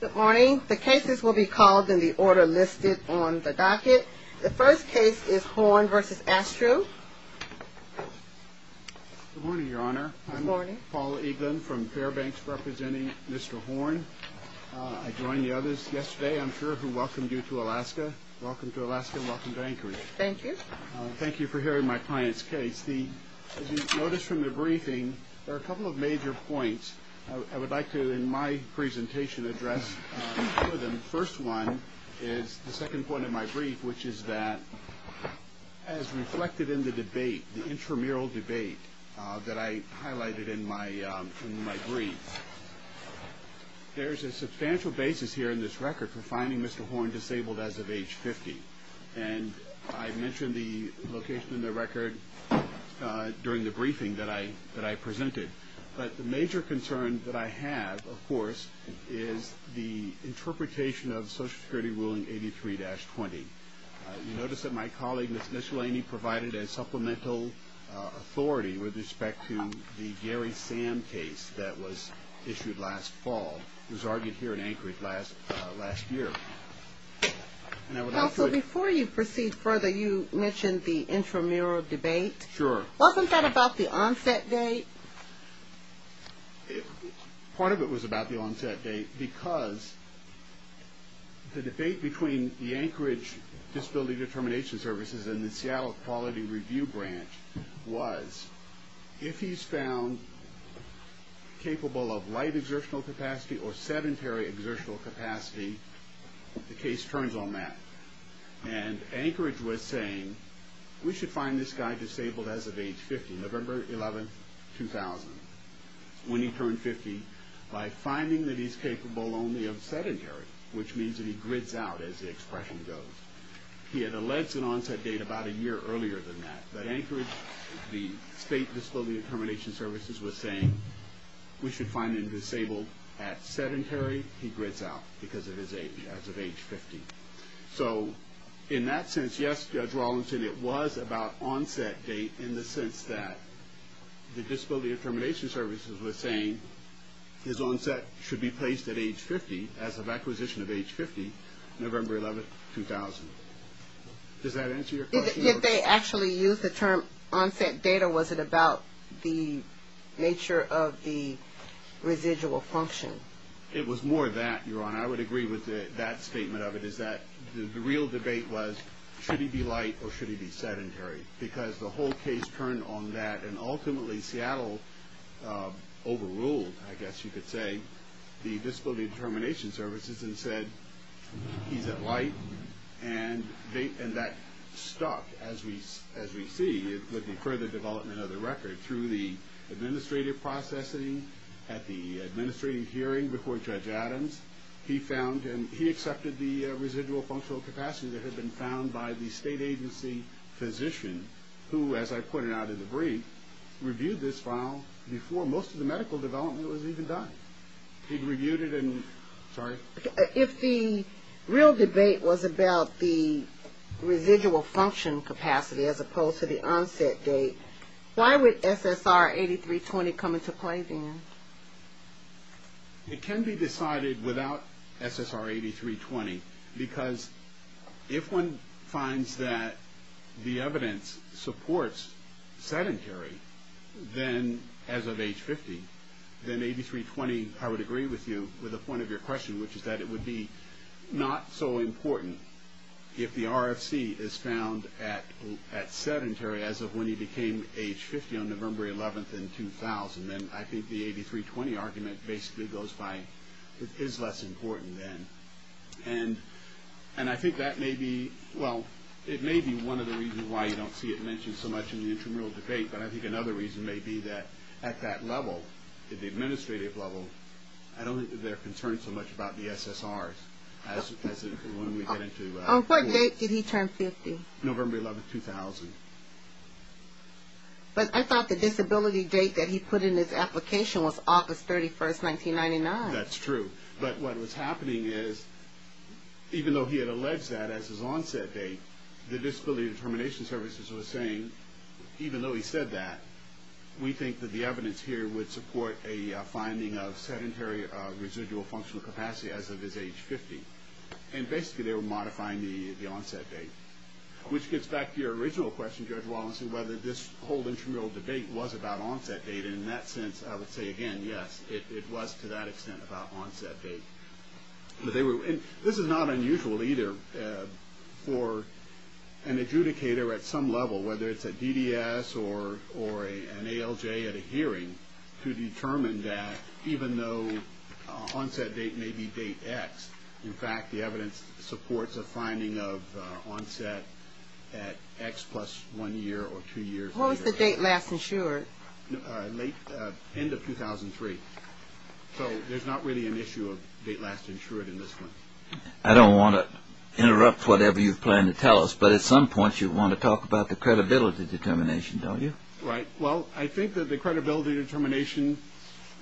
Good morning. The cases will be called in the order listed on the docket. The first case is Horn v. Astrue. Good morning, Your Honor. I'm Paul Eaglin from Fairbanks representing Mr. Horn. I joined the others yesterday, I'm sure, who welcomed you to Alaska. Welcome to Alaska and welcome to Anchorage. Thank you. Thank you for hearing my client's case. As you notice from the briefing, there are a couple of major points I would like to, in my presentation, address. The first one is the second point of my brief, which is that, as reflected in the debate, the intramural debate that I highlighted in my brief, there's a substantial basis here in this record for finding Mr. Horn disabled as of age 50. And I mentioned the location in the record during the briefing that I presented. But the major concern that I have, of course, is the interpretation of Social Security Ruling 83-20. You notice that my colleague, Ms. Nishalaney, provided a supplemental authority with respect to the Gary Sam case that was issued last fall. It was argued here in Anchorage last year. Counsel, before you proceed further, you mentioned the intramural debate. Sure. Wasn't that about the onset date? Part of it was about the onset date because the debate between the Anchorage Disability Determination Services and the Seattle Quality Review Branch was, if he's found capable of light exertional capacity or sedentary exertional capacity, the case turns on that. And Anchorage was saying, we should find this guy disabled as of age 50, November 11, 2000, when he turned 50, by finding that he's capable only of sedentary, which means that he grids out, as the expression goes. He had alleged an onset date about a year earlier than that. But Anchorage, the State Disability Determination Services was saying, we should find him disabled at sedentary. He grids out because of his age, as of age 50. So in that sense, yes, Judge Rawlinson, it was about onset date in the sense that the Disability Determination Services was saying, his onset should be placed at age 50, as of acquisition of age 50, November 11, 2000. Does that answer your question? If they actually used the term onset date, or was it about the nature of the residual function? It was more that, Your Honor. I would agree with that statement of it, is that the real debate was, should he be light or should he be sedentary? Because the whole case turned on that, and ultimately Seattle overruled, I guess you could say, the Disability Determination Services and said, he's at light. And that stuck, as we see, with the further development of the record. Through the administrative processing, at the administrative hearing before Judge Adams, he found and he accepted the residual functional capacity that had been found by the state agency physician, who, as I pointed out in the brief, reviewed this file before most of the medical development was even done. He'd reviewed it and, sorry? If the real debate was about the residual function capacity as opposed to the onset date, why would SSR 8320 come into play then? It can be decided without SSR 8320 because if one finds that the evidence supports sedentary, then as of age 50, then 8320, I would agree with you, with the point of your question, which is that it would be not so important if the RFC is found at sedentary as of when he became age 50 on November 11th in 2000. And I think the 8320 argument basically goes by, it is less important then. And I think that may be, well, it may be one of the reasons why you don't see it mentioned so much in the intramural debate, but I think another reason may be that at that level, at the administrative level, I don't think they're concerned so much about the SSRs as when we get into... On what date did he turn 50? November 11th, 2000. But I thought the disability date that he put in his application was August 31st, 1999. That's true. But what was happening is, even though he had alleged that as his onset date, the Disability Determination Services was saying, even though he said that, we think that the evidence here would support a finding of sedentary residual functional capacity as of his age 50. And basically they were modifying the onset date. Which gets back to your original question, Judge Wallinson, whether this whole intramural debate was about onset date. And in that sense, I would say, again, yes, it was to that extent about onset date. This is not unusual either for an adjudicator at some level, whether it's at DDS or an ALJ at a hearing, to determine that even though onset date may be date X, in fact, the evidence supports a finding of onset at X plus one year or two years later. When was the date last insured? Late end of 2003. So there's not really an issue of date last insured in this one. I don't want to interrupt whatever you plan to tell us, but at some point you want to talk about the credibility determination, don't you? Right. Well, I think that the credibility determination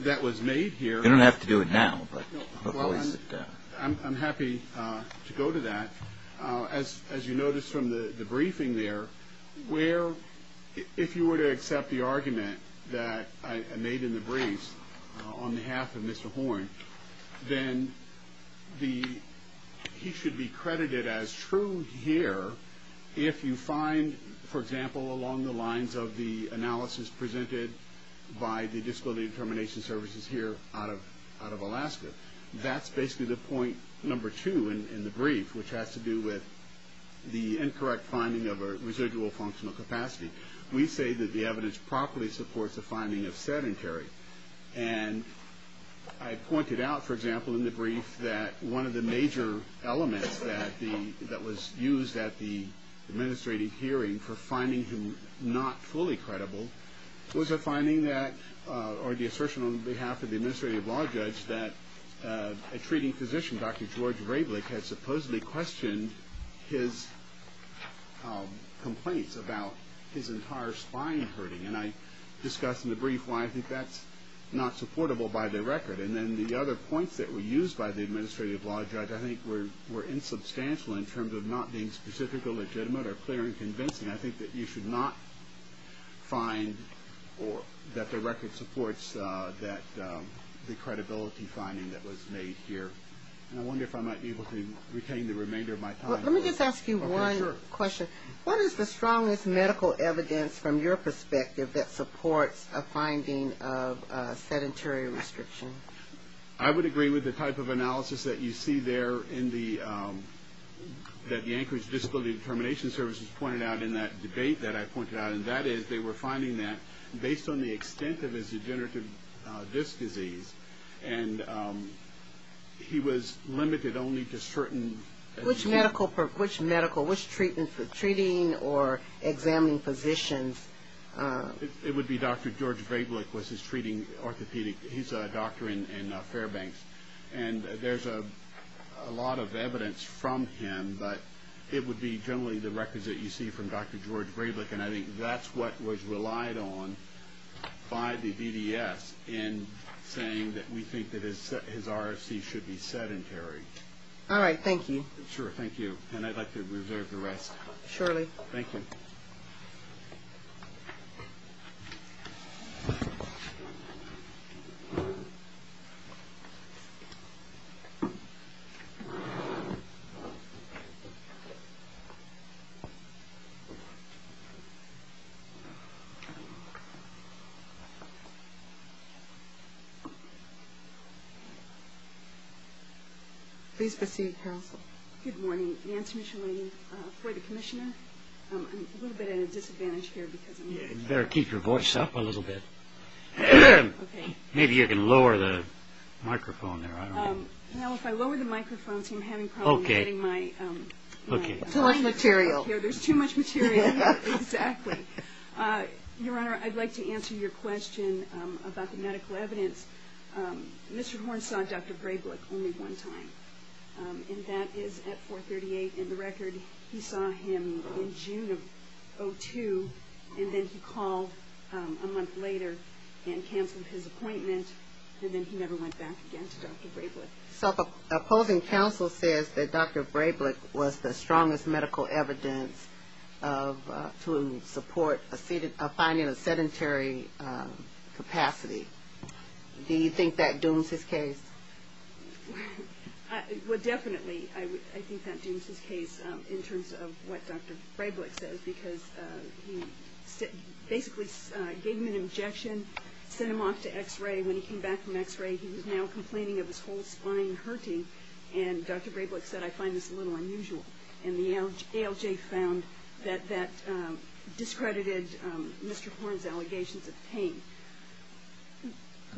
that was made here... You don't have to do it now. I'm happy to go to that. As you notice from the briefing there, if you were to accept the argument that I made in the briefs on behalf of Mr. Horn, then he should be credited as true here if you find, for example, along the lines of the analysis presented by the Disability Determination Services here out of Alaska. That's basically the point number two in the brief, which has to do with the incorrect finding of a residual functional capacity. We say that the evidence properly supports a finding of sedentary. And I pointed out, for example, in the brief, that one of the major elements that was used at the administrative hearing for finding him not fully credible was a finding that, or the assertion on behalf of the administrative law judge, that a treating physician, Dr. George Raeblich, had supposedly questioned his complaints about his entire spine hurting. And I discussed in the brief why I think that's not supportable by the record. And then the other points that were used by the administrative law judge I think were insubstantial in terms of not being specifically legitimate or clear and convincing. I think that you should not find that the record supports the credibility finding that was made here. And I wonder if I might be able to retain the remainder of my time. Let me just ask you one question. What is the strongest medical evidence from your perspective that supports a finding of sedentary restriction? I would agree with the type of analysis that you see there in the, that the Anchorage Disability Determination Service has pointed out in that debate that I pointed out. And that is they were finding that based on the extent of his degenerative disc disease. And he was limited only to certain. Which medical, which treatment, treating or examining physicians? It would be Dr. George Raeblich was his treating orthopedic, he's a doctor in Fairbanks. And there's a lot of evidence from him. But it would be generally the records that you see from Dr. George Raeblich. And I think that's what was relied on by the DDS in saying that we think that his RFC should be sedentary. All right, thank you. Sure, thank you. And I'd like to reserve the rest. Surely. Thank you. Please proceed, counsel. Good morning. Nancy Mitchell, for the commissioner. I'm a little bit at a disadvantage here. You better keep your voice up a little bit. Okay. Maybe you can lower the microphone there. Now if I lower the microphone, I'm having problems getting my. Okay. Okay. Too much material. There's too much material. Exactly. Your Honor, I'd like to answer your question about the medical evidence. Mr. Horn saw Dr. Raeblich only one time. And that is at 438. And the record, he saw him in June of 2002. And then he called a month later and canceled his appointment. And then he never went back again to Dr. Raeblich. So the opposing counsel says that Dr. Raeblich was the strongest medical evidence to support finding a sedentary capacity. Do you think that dooms his case? Well, definitely I think that dooms his case in terms of what Dr. Raeblich says, because he basically gave him an injection, sent him off to x-ray. When he came back from x-ray, he was now complaining of his whole spine hurting. And Dr. Raeblich said, I find this a little unusual. And the ALJ found that that discredited Mr. Horn's allegations of pain.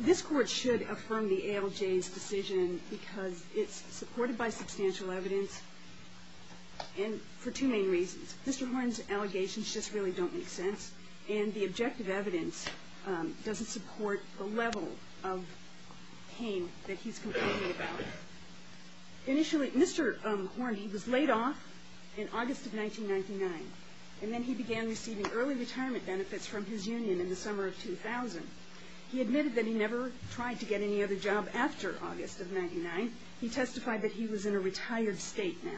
This Court should affirm the ALJ's decision because it's supported by substantial evidence for two main reasons. Mr. Horn's allegations just really don't make sense. And the objective evidence doesn't support the level of pain that he's complaining about. Initially, Mr. Horn, he was laid off in August of 1999. And then he began receiving early retirement benefits from his union in the summer of 2000. He admitted that he never tried to get any other job after August of 1999. He testified that he was in a retired state now.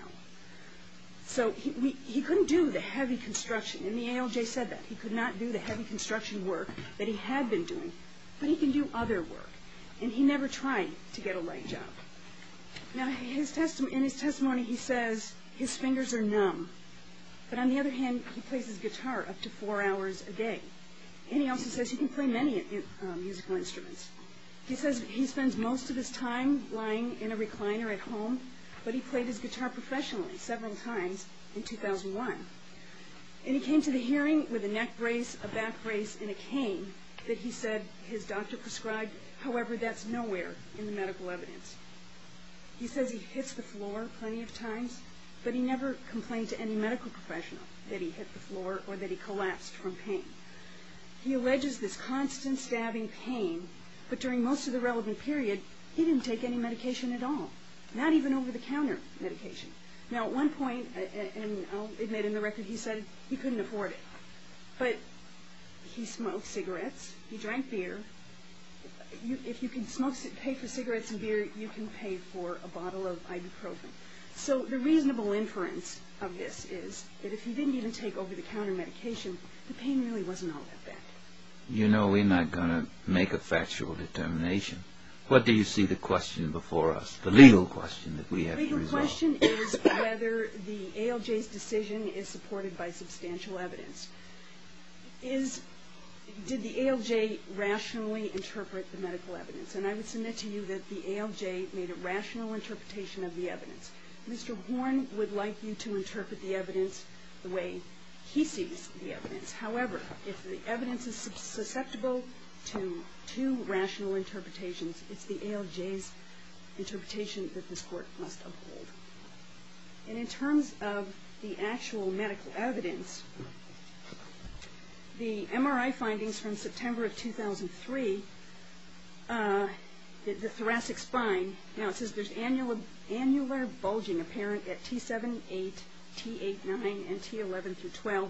So he couldn't do the heavy construction, and the ALJ said that. He could not do the heavy construction work that he had been doing. But he can do other work. And he never tried to get a light job. Now, in his testimony, he says his fingers are numb. But on the other hand, he plays his guitar up to four hours a day. And he also says he can play many musical instruments. He says he spends most of his time lying in a recliner at home, but he played his guitar professionally several times in 2001. And he came to the hearing with a neck brace, a back brace, and a cane that he said his doctor prescribed. However, that's nowhere in the medical evidence. He says he hits the floor plenty of times, but he never complained to any medical professional that he hit the floor or that he collapsed from pain. He alleges this constant stabbing pain, but during most of the relevant period, he didn't take any medication at all, not even over-the-counter medication. Now, at one point, and I'll admit in the record, he said he couldn't afford it. But he smoked cigarettes, he drank beer. If you can pay for cigarettes and beer, you can pay for a bottle of ibuprofen. So the reasonable inference of this is that if he didn't even take over-the-counter medication, the pain really wasn't all that bad. You know we're not going to make a factual determination. What do you see the question before us, the legal question that we have to resolve? The question is whether the ALJ's decision is supported by substantial evidence. Did the ALJ rationally interpret the medical evidence? And I would submit to you that the ALJ made a rational interpretation of the evidence. Mr. Horn would like you to interpret the evidence the way he sees the evidence. However, if the evidence is susceptible to rational interpretations, it's the ALJ's interpretation that this Court must uphold. And in terms of the actual medical evidence, the MRI findings from September of 2003, the thoracic spine, now it says there's annular bulging apparent at T7, 8, T8, 9, and T11 through 12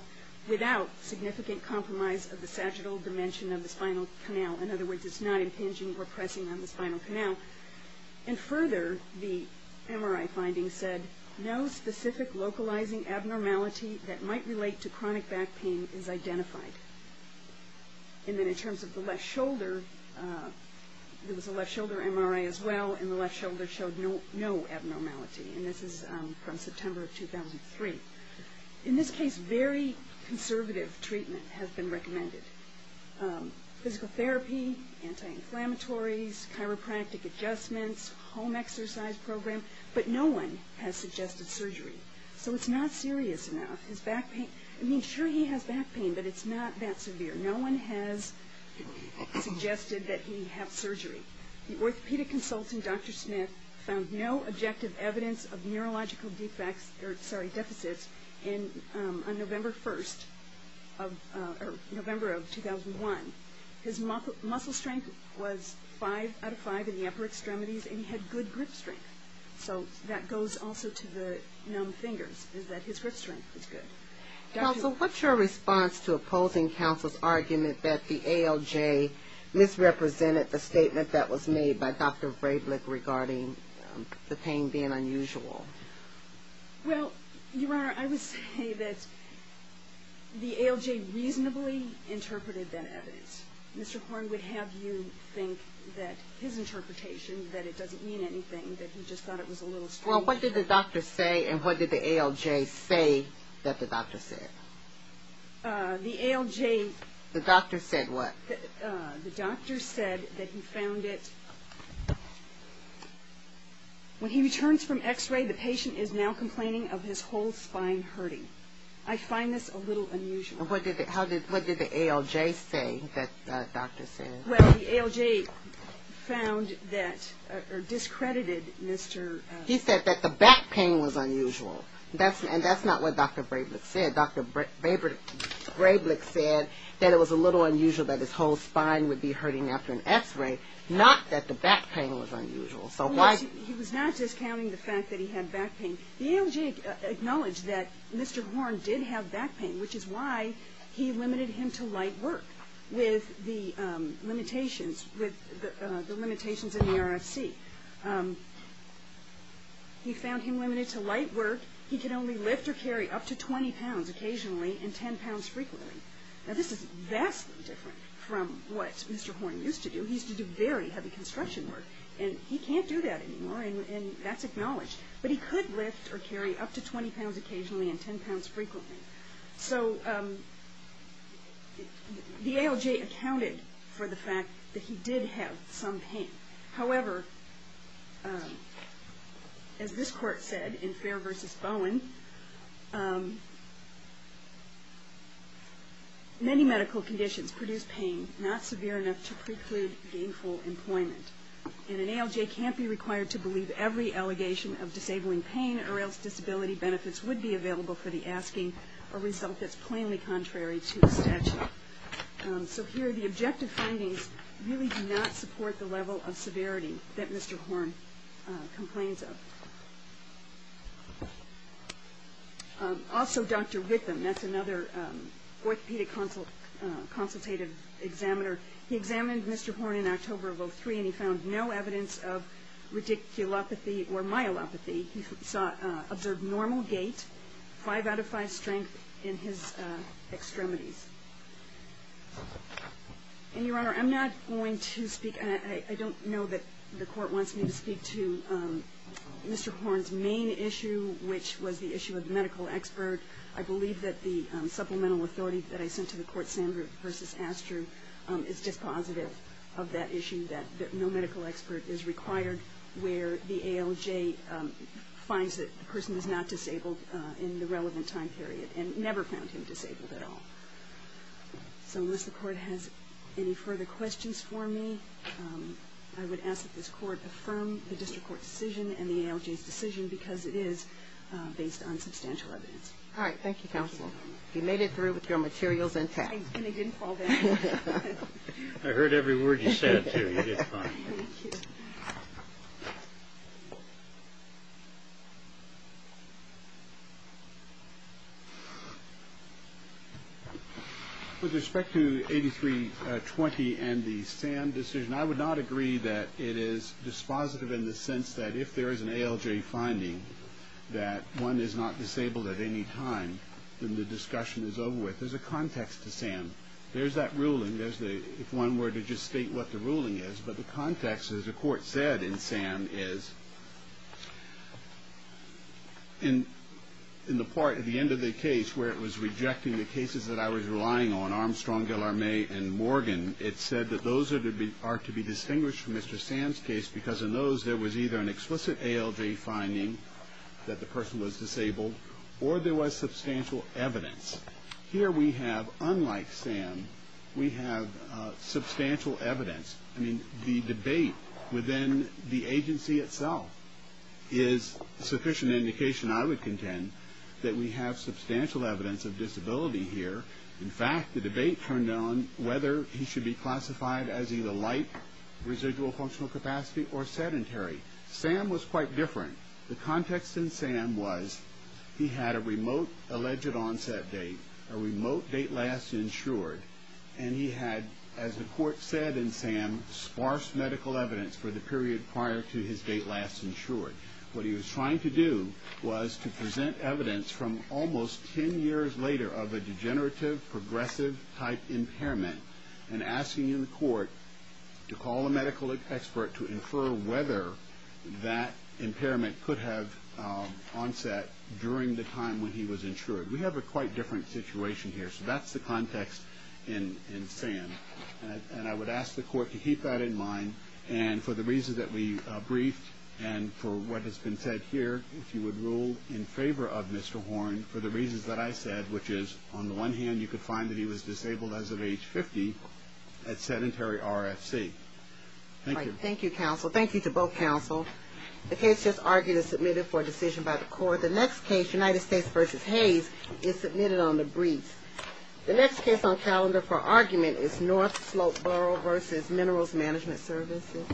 without significant compromise of the sagittal dimension of the spinal canal. In other words, it's not impinging or pressing on the spinal canal. And further, the MRI findings said no specific localizing abnormality that might relate to chronic back pain is identified. And then in terms of the left shoulder, there was a left shoulder MRI as well, and the left shoulder showed no abnormality. And this is from September of 2003. In this case, very conservative treatment has been recommended. Physical therapy, anti-inflammatories, chiropractic adjustments, home exercise program, but no one has suggested surgery. So it's not serious enough. I mean, sure, he has back pain, but it's not that severe. No one has suggested that he have surgery. The orthopedic consultant, Dr. Smith, found no objective evidence of neurological deficits on November 1st, or November of 2001. His muscle strength was five out of five in the upper extremities, and he had good grip strength. So that goes also to the numb fingers, is that his grip strength is good. So what's your response to opposing counsel's argument that the ALJ misrepresented the statement that was made by Dr. Freidlich regarding the pain being unusual? Well, Your Honor, I would say that the ALJ reasonably interpreted that evidence. Mr. Horne would have you think that his interpretation, that it doesn't mean anything, that he just thought it was a little strange. Well, what did the doctor say, and what did the ALJ say that the doctor said? The ALJ... The doctor said what? The doctor said that he found it... When he returns from x-ray, the patient is now complaining of his whole spine hurting. I find this a little unusual. And what did the ALJ say that the doctor said? Well, the ALJ found that, or discredited Mr.... He said that the back pain was unusual, and that's not what Dr. Freidlich said. Dr. Freidlich said that it was a little unusual that his whole spine would be hurting after an x-ray, not that the back pain was unusual. He was not discounting the fact that he had back pain. The ALJ acknowledged that Mr. Horne did have back pain, which is why he limited him to light work with the limitations in the RFC. He found him limited to light work. He could only lift or carry up to 20 pounds occasionally and 10 pounds frequently. Now, this is vastly different from what Mr. Horne used to do. He used to do very heavy construction work. And he can't do that anymore, and that's acknowledged. But he could lift or carry up to 20 pounds occasionally and 10 pounds frequently. So the ALJ accounted for the fact that he did have some pain. However, as this court said in Fair v. Bowen, many medical conditions produce pain not severe enough to preclude gainful employment. And an ALJ can't be required to believe every allegation of disabling pain or else disability benefits would be available for the asking, a result that's plainly contrary to the statute. So here the objective findings really do not support the level of severity that Mr. Horne complains of. Also, Dr. Ritham, that's another orthopedic consultative examiner, he examined Mr. Horne in October of 2003, and he found no evidence of radiculopathy or myelopathy. He observed normal gait, 5 out of 5 strength in his extremities. And, Your Honor, I'm not going to speak. I don't know that the court wants me to speak to Mr. Horne's main issue, which was the issue of the medical expert. I believe that the supplemental authority that I sent to the court, Sandra v. Astru, is dispositive of that issue that no medical expert is required where the ALJ finds that the person is not disabled in the relevant time period and never found him disabled at all. So unless the court has any further questions for me, I would ask that this court affirm the district court's decision and the ALJ's decision because it is based on substantial evidence. All right. Thank you, counsel. You made it through with your materials intact. And they didn't fall down. I heard every word you said, too. You did fine. Thank you. With respect to 8320 and the SAM decision, I would not agree that it is dispositive in the sense that if there is an ALJ finding that one is not disabled at any time, then the discussion is over with. There's a context to SAM. There's that ruling, if one were to just state what the ruling is. But the context, as the court said in SAM, is in the part at the end of the case where it was rejecting the cases that I was relying on, Armstrong, Guillermet, and Morgan. It said that those are to be distinguished from Mr. SAM's case because in those there was either an explicit ALJ finding that the person was disabled or there was substantial evidence. Here we have, unlike SAM, we have substantial evidence. I mean, the debate within the agency itself is sufficient indication, I would contend, that we have substantial evidence of disability here. In fact, the debate turned on whether he should be classified as either light, residual functional capacity, or sedentary. SAM was quite different. The context in SAM was he had a remote alleged onset date, a remote date last insured, and he had, as the court said in SAM, sparse medical evidence for the period prior to his date last insured. What he was trying to do was to present evidence from almost ten years later of a degenerative progressive type impairment and asking the court to call a medical expert to infer whether that impairment could have onset during the time when he was insured. We have a quite different situation here. So that's the context in SAM. And I would ask the court to keep that in mind. And for the reasons that we briefed and for what has been said here, if you would rule in favor of Mr. Horn for the reasons that I said, which is on the one hand you could find that he was disabled as of age 50 at sedentary RFC. Thank you. Thank you, counsel. Thank you to both counsel. The case just argued is submitted for decision by the court. The next case, United States v. Hayes, is submitted on the brief. The next case on calendar for argument is North Slope Borough v. Minerals Management Services.